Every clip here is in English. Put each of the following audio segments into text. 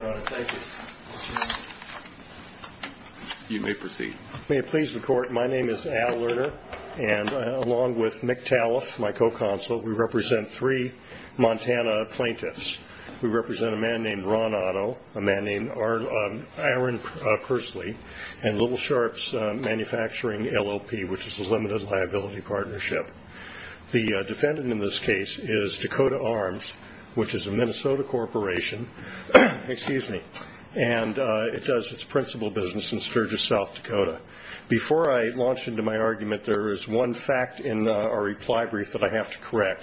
May it please the court, my name is Al Lerner, and along with Mick Taliff, my co-consul, we represent three Montana plaintiffs. We represent a man named Ron Otto, a man named Aaron Pursley, and Little Sharps Manufacturing, LLP, which is the Limited Liability Partnership. The defendant in this case is Dakota Arms, which is a Minnesota corporation, and it does its principal business in Sturgis, South Dakota. Before I launch into my argument, there is one fact in our reply brief that I have to correct.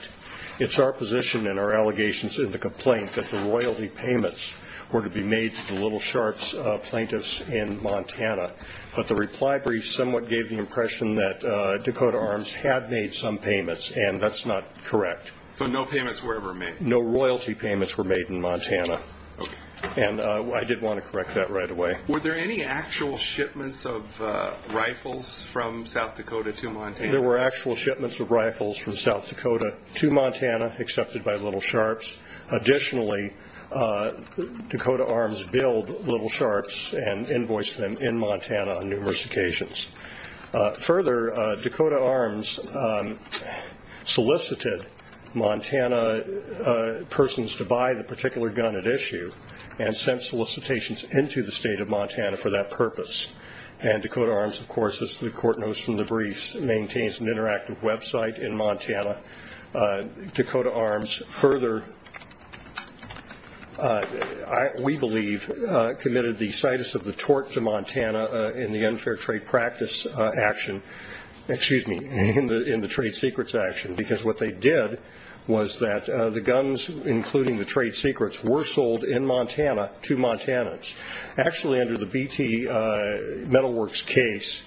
It's our position and our allegations in the complaint that the royalty payments were to be made to the Little Sharps plaintiffs in Montana, but the reply brief somewhat gave the impression that Dakota Arms had made some payments, and that's not correct. So no payments were ever made? No royalty payments were made in Montana, and I did want to correct that right away. Were there any actual shipments of rifles from South Dakota to Montana? There were actual shipments of rifles from South Dakota to Montana, accepted by Little Sharps. Additionally, Dakota Arms billed Little Sharps and invoiced them in Montana on numerous occasions. Further, Dakota Arms solicited Montana persons to buy the particular gun at issue and sent solicitations into the state of Montana for that purpose. And Dakota Arms, of course, as the court knows from the briefs, maintains an interactive website in Montana. Dakota Arms further, we believe, committed the situs of the tort to Montana in the unfair trade practice action, excuse me, in the trade secrets action, because what they did was that the guns, including the trade secrets, were sold in Montana to Montanans. Actually, under the BT Metalworks case,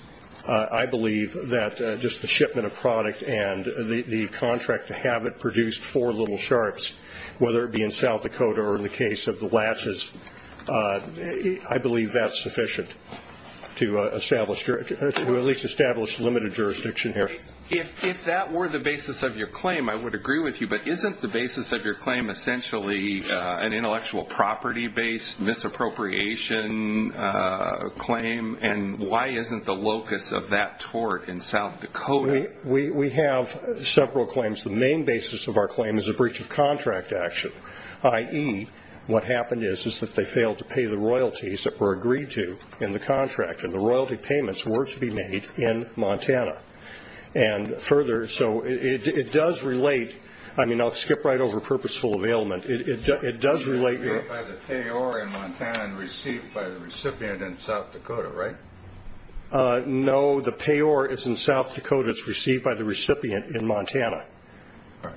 I believe that just the shipment of product and the contract to have it produced for Little Sharps, whether it be in South Dakota or in the case of the Lashes, I believe that's sufficient to at least establish limited jurisdiction here. If that were the basis of your claim, I would agree with you. But isn't the basis of your claim essentially an intellectual property-based misappropriation claim? And why isn't the locus of that tort in South Dakota? We have several claims. The main basis of our claim is a breach of contract action, i.e., what happened is that they failed to pay the royalties that were agreed to in the contract, and the royalty payments were to be made in Montana. And further, so it does relate. I mean, I'll skip right over purposeful availment. It does relate. It was paid by the payor in Montana and received by the recipient in South Dakota, right? No, the payor is in South Dakota. It's received by the recipient in Montana. All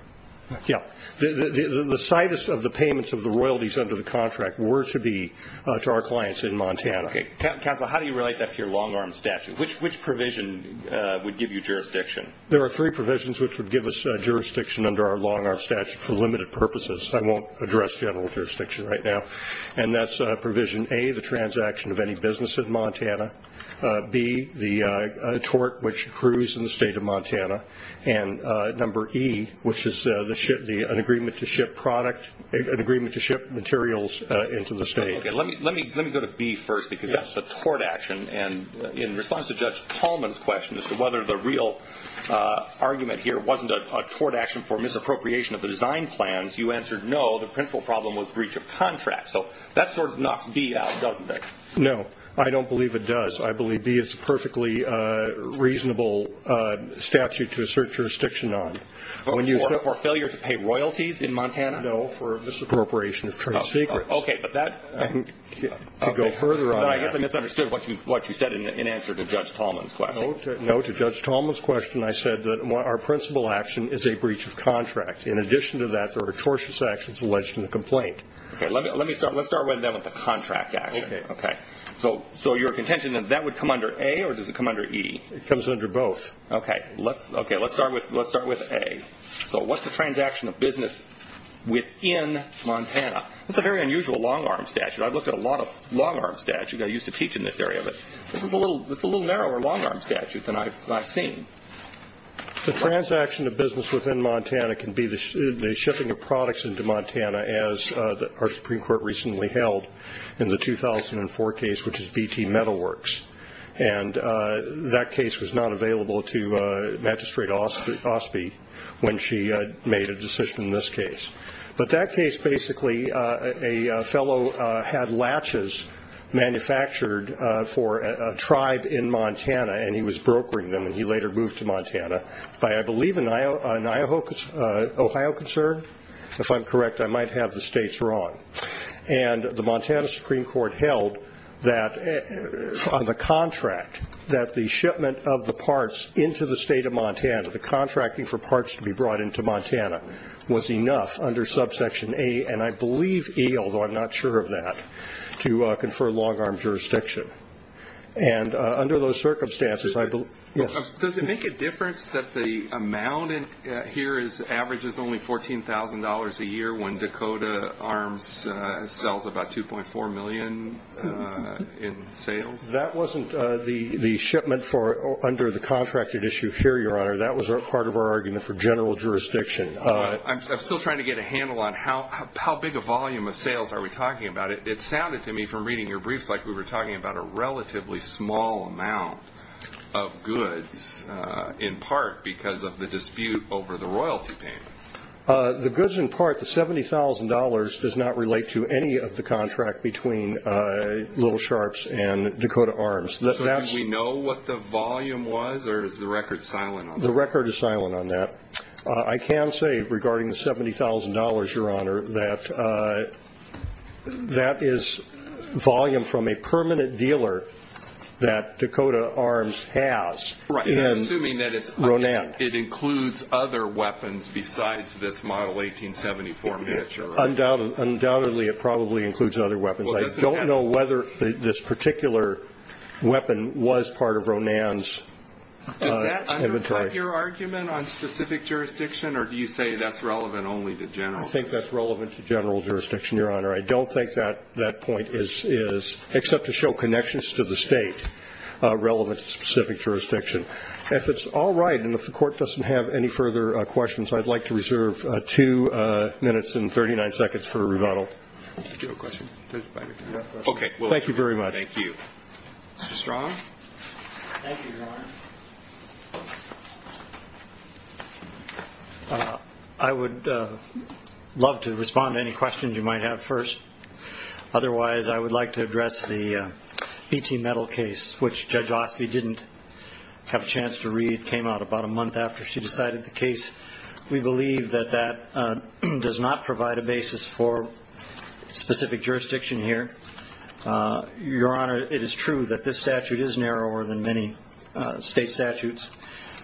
right. Yeah. The situs of the payments of the royalties under the contract were to be to our clients in Montana. Okay. Counsel, how do you relate that to your long-arm statute? Which provision would give you jurisdiction? There are three provisions which would give us jurisdiction under our long-arm statute for limited purposes. I won't address general jurisdiction right now. And that's provision A, the transaction of any business in Montana. B, the tort which accrues in the state of Montana. And number E, which is an agreement to ship product, an agreement to ship materials into the state. Okay. Let me go to B first because that's the tort action. And in response to Judge Tolman's question as to whether the real argument here wasn't a tort action for misappropriation of the design plans, you answered no. The principal problem was breach of contract. So that sort of knocks B out, doesn't it? No. I don't believe it does. I believe B is a perfectly reasonable statute to assert jurisdiction on. For failure to pay royalties in Montana? No, for misappropriation of trade secrets. Okay. But that – To go further on that – I guess I misunderstood what you said in answer to Judge Tolman's question. No. To Judge Tolman's question, I said that our principal action is a breach of contract. In addition to that, there are tortious actions alleged in the complaint. Okay. Let's start with the contract action. Okay. So your contention that that would come under A or does it come under E? It comes under both. Okay. Let's start with A. So what's the transaction of business within Montana? That's a very unusual long-arm statute. I've looked at a lot of long-arm statutes. I used to teach in this area, but this is a little narrower long-arm statute than I've seen. The transaction of business within Montana can be the shipping of products into Montana, as our Supreme Court recently held in the 2004 case, which is BT Metalworks. And that case was not available to Magistrate Osby when she made a decision in this case. But that case, basically, a fellow had latches manufactured for a tribe in Montana, and he was brokering them, and he later moved to Montana by, I believe, an Ohio concern. If I'm correct, I might have the states wrong. And the Montana Supreme Court held that on the contract, that the shipment of the parts into the state of Montana, the contracting for parts to be brought into Montana, was enough under Subsection A, and I believe E, although I'm not sure of that, to confer long-arm jurisdiction. And under those circumstances, I believe ‑‑ Does it make a difference that the amount here averages only $14,000 a year when Dakota Arms sells about $2.4 million in sales? That wasn't the shipment under the contracted issue here, Your Honor. That was part of our argument for general jurisdiction. I'm still trying to get a handle on how big a volume of sales are we talking about. But it sounded to me from reading your briefs like we were talking about a relatively small amount of goods, in part because of the dispute over the royalty payments. The goods in part, the $70,000, does not relate to any of the contract between Little Sharps and Dakota Arms. So do we know what the volume was, or is the record silent on that? The record is silent on that. I can say, regarding the $70,000, Your Honor, that that is volume from a permanent dealer that Dakota Arms has in Ronan. Right. I'm assuming that it includes other weapons besides this Model 1874 pitcher. Undoubtedly, it probably includes other weapons. I don't know whether this particular weapon was part of Ronan's inventory. Is that your argument on specific jurisdiction, or do you say that's relevant only to general? I think that's relevant to general jurisdiction, Your Honor. I don't think that point is, except to show connections to the State, relevant to specific jurisdiction. If it's all right, and if the Court doesn't have any further questions, I'd like to reserve two minutes and 39 seconds for rebuttal. Do you have a question? Okay. Thank you very much. Thank you. Mr. Strong? Thank you, Your Honor. I would love to respond to any questions you might have first. Otherwise, I would like to address the BT Metal case, which Judge Osby didn't have a chance to read, came out about a month after she decided the case. We believe that that does not provide a basis for specific jurisdiction here. Your Honor, it is true that this statute is narrower than many state statutes.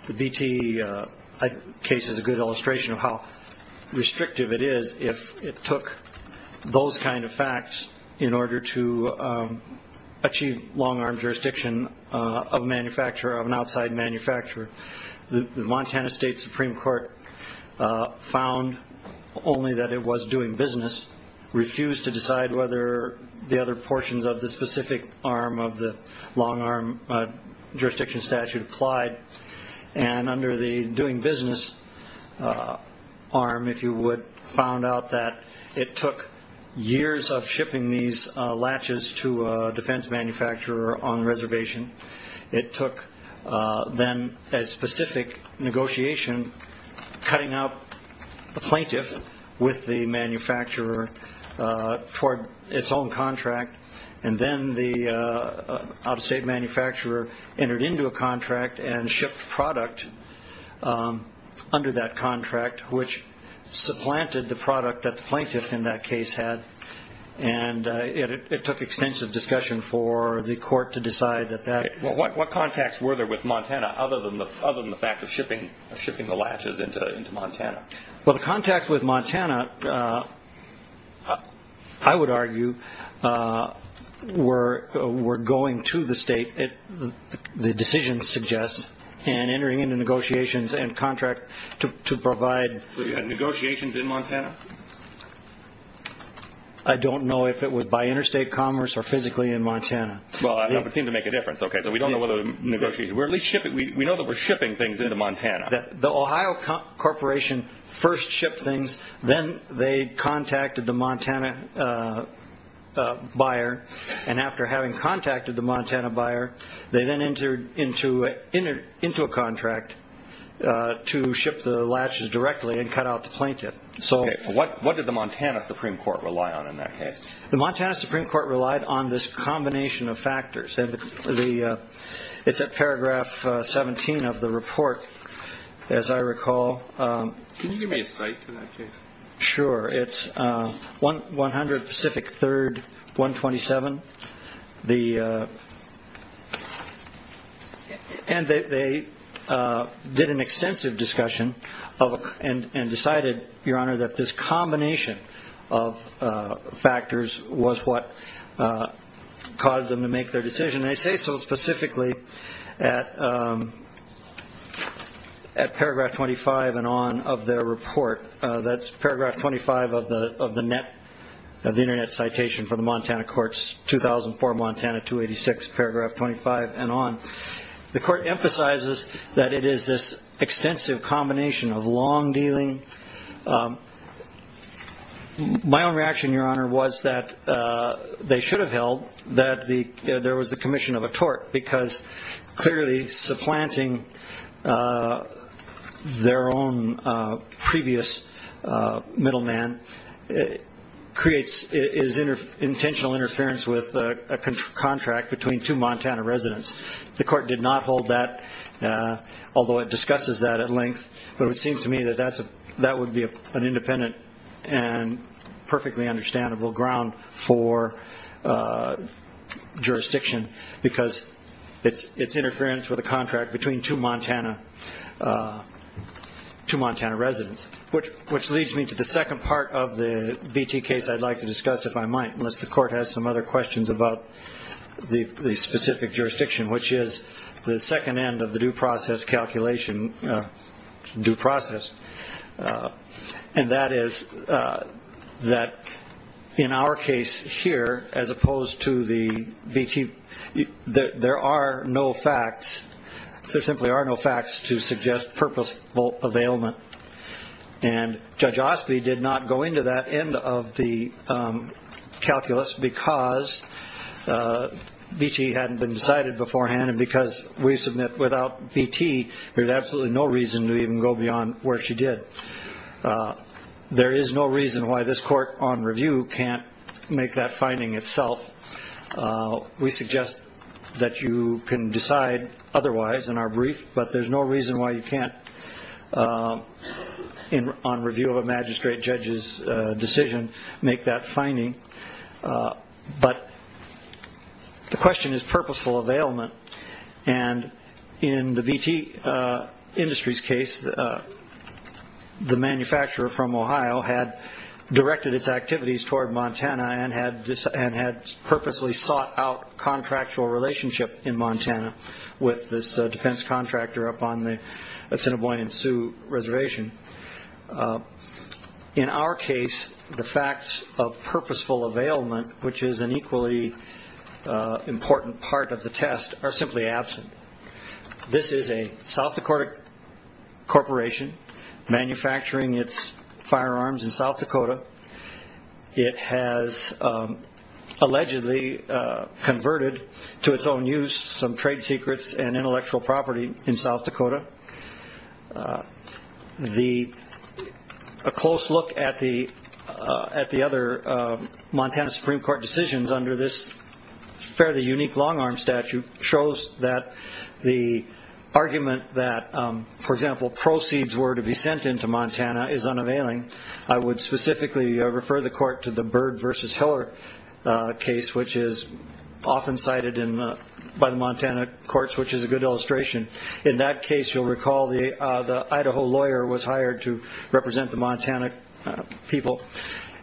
The BT case is a good illustration of how restrictive it is if it took those kind of facts in order to achieve long-arm jurisdiction of a manufacturer, of an outside manufacturer. The Montana State Supreme Court found only that it was doing business, refused to decide whether the other portions of the specific arm of the long-arm jurisdiction statute applied, and under the doing business arm, if you would, found out that it took years of shipping these latches to a defense manufacturer on reservation. It took then a specific negotiation, cutting out the plaintiff with the manufacturer for its own contract, and then the out-of-state manufacturer entered into a contract and shipped product under that contract, which supplanted the product that the plaintiff in that case had. It took extensive discussion for the court to decide that that... What contacts were there with Montana other than the fact of shipping the latches into Montana? Well, the contacts with Montana, I would argue, were going to the state, the decision suggests, and entering into negotiations and contract to provide... I don't know if it was by interstate commerce or physically in Montana. Well, that would seem to make a difference. Okay, so we don't know whether the negotiation... We know that we're shipping things into Montana. The Ohio Corporation first shipped things, then they contacted the Montana buyer, and after having contacted the Montana buyer, they then entered into a contract to ship the latches directly and cut out the plaintiff. Okay, what did the Montana Supreme Court rely on in that case? The Montana Supreme Court relied on this combination of factors. It's at paragraph 17 of the report, as I recall. Can you give me a cite to that case? Sure. It's 100 Pacific 3rd, 127. And they did an extensive discussion and decided, Your Honor, that this combination of factors was what caused them to make their decision. And I say so specifically at paragraph 25 and on of their report. That's paragraph 25 of the internet citation for the Montana courts, 2004 Montana 286, paragraph 25 and on. The court emphasizes that it is this extensive combination of long dealing. My own reaction, Your Honor, was that they should have held that there was a commission of a tort because clearly supplanting their own previous middleman creates intentional interference with a contract between two Montana residents. The court did not hold that, although it discusses that at length. But it seems to me that that would be an independent and perfectly understandable ground for jurisdiction because it's interference with a contract between two Montana residents, which leads me to the second part of the BT case I'd like to discuss, if I might, unless the court has some other questions about the specific jurisdiction, which is the second end of the due process calculation, due process. And that is that in our case here, as opposed to the BT, there are no facts. There simply are no facts to suggest purposeful availment. And Judge Osby did not go into that end of the calculus because BT hadn't been decided beforehand and because we submit without BT there's absolutely no reason to even go beyond where she did. There is no reason why this court on review can't make that finding itself. We suggest that you can decide otherwise in our brief, but there's no reason why you can't on review of a magistrate judge's decision make that finding. But the question is purposeful availment. And in the BT Industries case, the manufacturer from Ohio had directed its activities toward Montana and had purposely sought out contractual relationship in Montana with this defense contractor up on the Assiniboine and Sioux Reservation. In our case, the facts of purposeful availment, which is an equally important part of the test, are simply absent. This is a South Dakota corporation manufacturing its firearms in South Dakota. It has allegedly converted to its own use some trade secrets and intellectual property in South Dakota. A close look at the other Montana Supreme Court decisions under this fairly unique long-arm statute shows that the argument that, for example, proceeds were to be sent into Montana is unavailing. I would specifically refer the court to the Byrd v. Hiller case, which is often cited by the Montana courts, which is a good illustration. In that case, you'll recall the Idaho lawyer was hired to represent the Montana people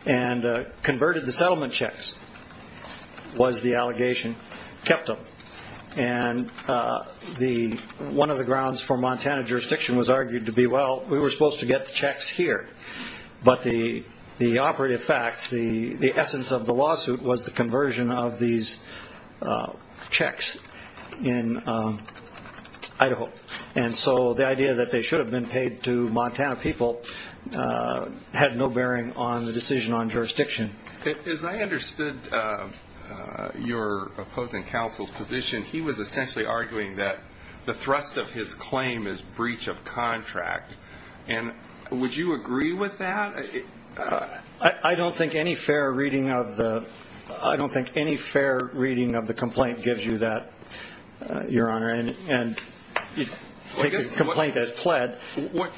and converted the settlement checks, was the allegation, kept them. And one of the grounds for Montana jurisdiction was argued to be, well, we were supposed to get the checks here, but the operative facts, the essence of the lawsuit was the conversion of these checks in Idaho. And so the idea that they should have been paid to Montana people had no bearing on the decision on jurisdiction. As I understood your opposing counsel's position, he was essentially arguing that the thrust of his claim is breach of contract. And would you agree with that? I don't think any fair reading of the complaint gives you that, Your Honor. And the complaint has fled.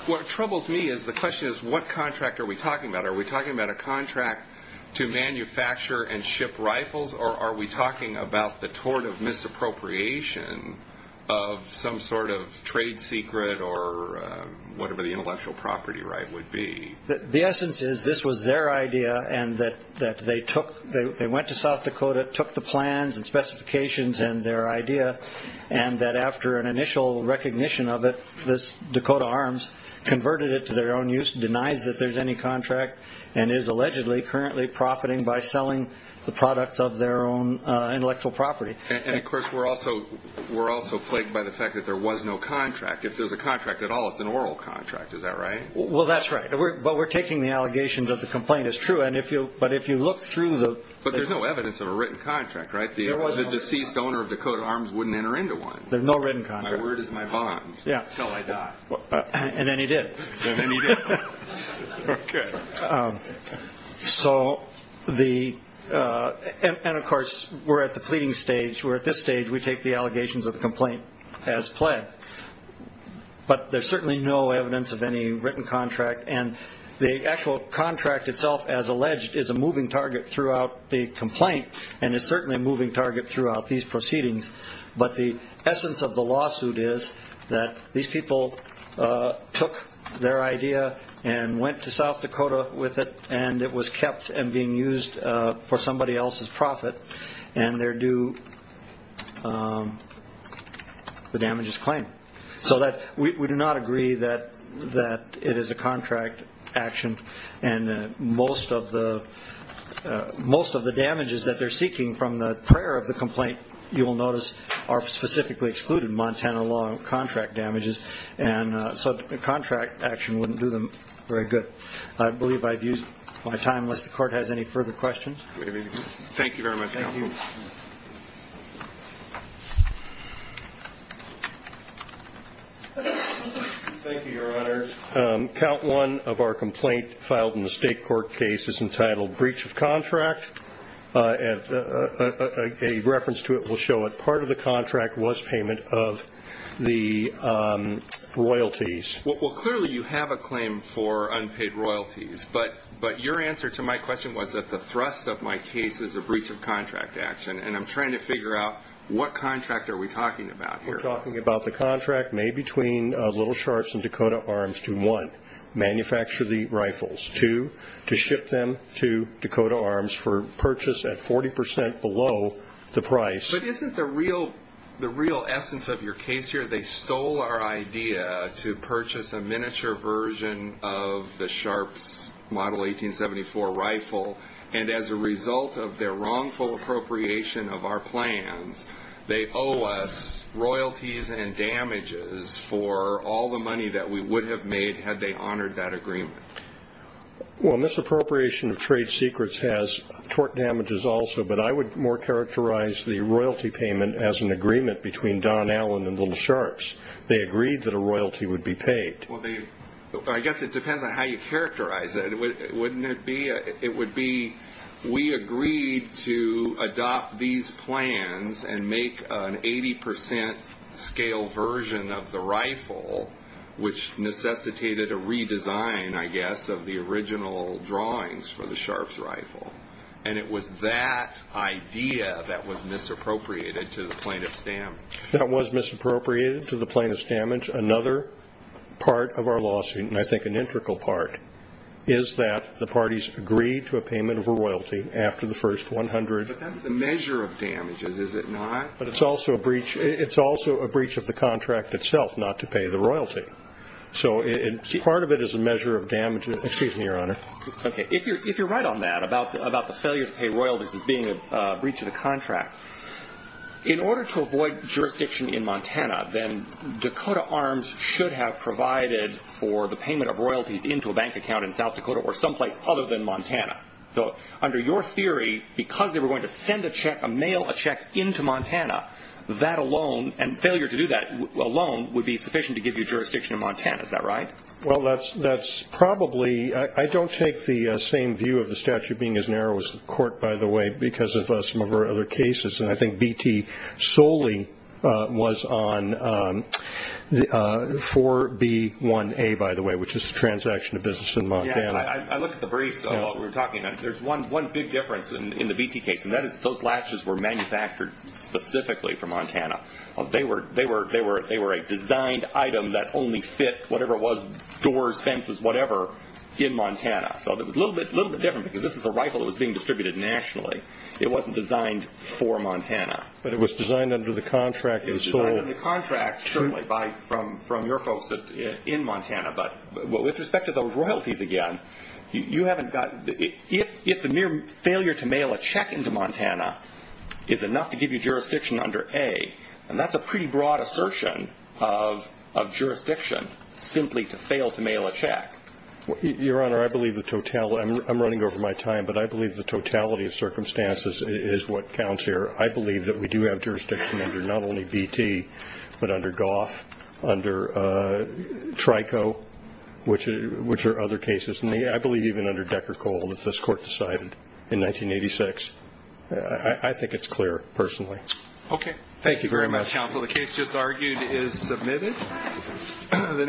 What troubles me is the question is what contract are we talking about? Are we talking about a contract to manufacture and ship rifles, or are we talking about the tort of misappropriation of some sort of trade secret or whatever the intellectual property right would be? The essence is this was their idea and that they went to South Dakota, took the plans and specifications and their idea, and that after an initial recognition of it, this Dakota Arms converted it to their own use, denies that there's any contract, and is allegedly currently profiting by selling the products of their own intellectual property. And, of course, we're also plagued by the fact that there was no contract. If there's a contract at all, it's an oral contract. Is that right? Well, that's right. But we're taking the allegations of the complaint as true. But if you look through the – But there's no evidence of a written contract, right? The deceased owner of Dakota Arms wouldn't enter into one. There's no written contract. My word is my bond until I die. And then he did. And then he did. Okay. So the – and, of course, we're at the pleading stage. We're at this stage. We take the allegations of the complaint as plagued. But there's certainly no evidence of any written contract. And the actual contract itself, as alleged, is a moving target throughout the complaint and is certainly a moving target throughout these proceedings. But the essence of the lawsuit is that these people took their idea and went to South Dakota with it, and it was kept and being used for somebody else's profit, and they're due the damages claimed. So we do not agree that it is a contract action and most of the damages that they're seeking from the prior of the complaint, you will notice, are specifically excluded. Montana law contract damages. And so a contract action wouldn't do them very good. I believe I've used my time. Unless the Court has any further questions. Thank you very much, Counsel. Thank you, Your Honor. Count one of our complaint filed in the state court case is entitled breach of contract. A reference to it will show that part of the contract was payment of the royalties. Well, clearly you have a claim for unpaid royalties. But your answer to my question was that the thrust of my case is a breach of contract action, and I'm trying to figure out what contract are we talking about here. We're talking about the contract made between Little Sharps and Dakota Arms to, one, manufacture the rifles, two, to ship them to Dakota Arms for purchase at 40% below the price. But isn't the real essence of your case here, they stole our idea to purchase a miniature version of the Sharps Model 1874 rifle, and as a result of their wrongful appropriation of our plans, they owe us royalties and damages for all the money that we would have made had they honored that agreement? Well, misappropriation of trade secrets has tort damages also, but I would more characterize the royalty payment as an agreement between Don Allen and Little Sharps. They agreed that a royalty would be paid. Well, I guess it depends on how you characterize it. Wouldn't it be, it would be we agreed to adopt these plans and make an 80% scale version of the rifle, which necessitated a redesign, I guess, of the original drawings for the Sharps rifle. And it was that idea that was misappropriated to the plaintiff's damage. That was misappropriated to the plaintiff's damage. Another part of our lawsuit, and I think an integral part, is that the parties agreed to a payment of a royalty after the first 100. But that's the measure of damages, is it not? But it's also a breach of the contract itself, not to pay the royalty. So part of it is a measure of damages. Excuse me, Your Honor. If you're right on that, about the failure to pay royalties as being a breach of the contract, in order to avoid jurisdiction in Montana, then Dakota Arms should have provided for the payment of royalties into a bank account in South Dakota or someplace other than Montana. So under your theory, because they were going to send a check, a mail a check into Montana, that alone, and failure to do that alone, would be sufficient to give you jurisdiction in Montana. Is that right? Well, that's probably – I don't take the same view of the statute being as narrow as the court, by the way, because of some of our other cases. And I think BT solely was on 4B1A, by the way, which is the transaction of business in Montana. Yeah, I looked at the briefs while we were talking. There's one big difference in the BT case, and that is those latches were manufactured specifically for Montana. They were a designed item that only fit whatever was – doors, fences, whatever – in Montana. So it was a little bit different, because this was a rifle that was being distributed nationally. It wasn't designed for Montana. But it was designed under the contract and sold. It was designed under the contract, certainly, from your folks in Montana. But with respect to those royalties, again, you haven't gotten – if the mere failure to mail a check into Montana is enough to give you jurisdiction under A, then that's a pretty broad assertion of jurisdiction simply to fail to mail a check. Your Honor, I believe the – I'm running over my time, but I believe the totality of circumstances is what counts here. I believe that we do have jurisdiction under not only BT, but under Goff, under Trico, which are other cases. I believe even under Decker Cole that this court decided in 1986. I think it's clear, personally. Okay. Thank you very much, counsel. The case just argued is submitted.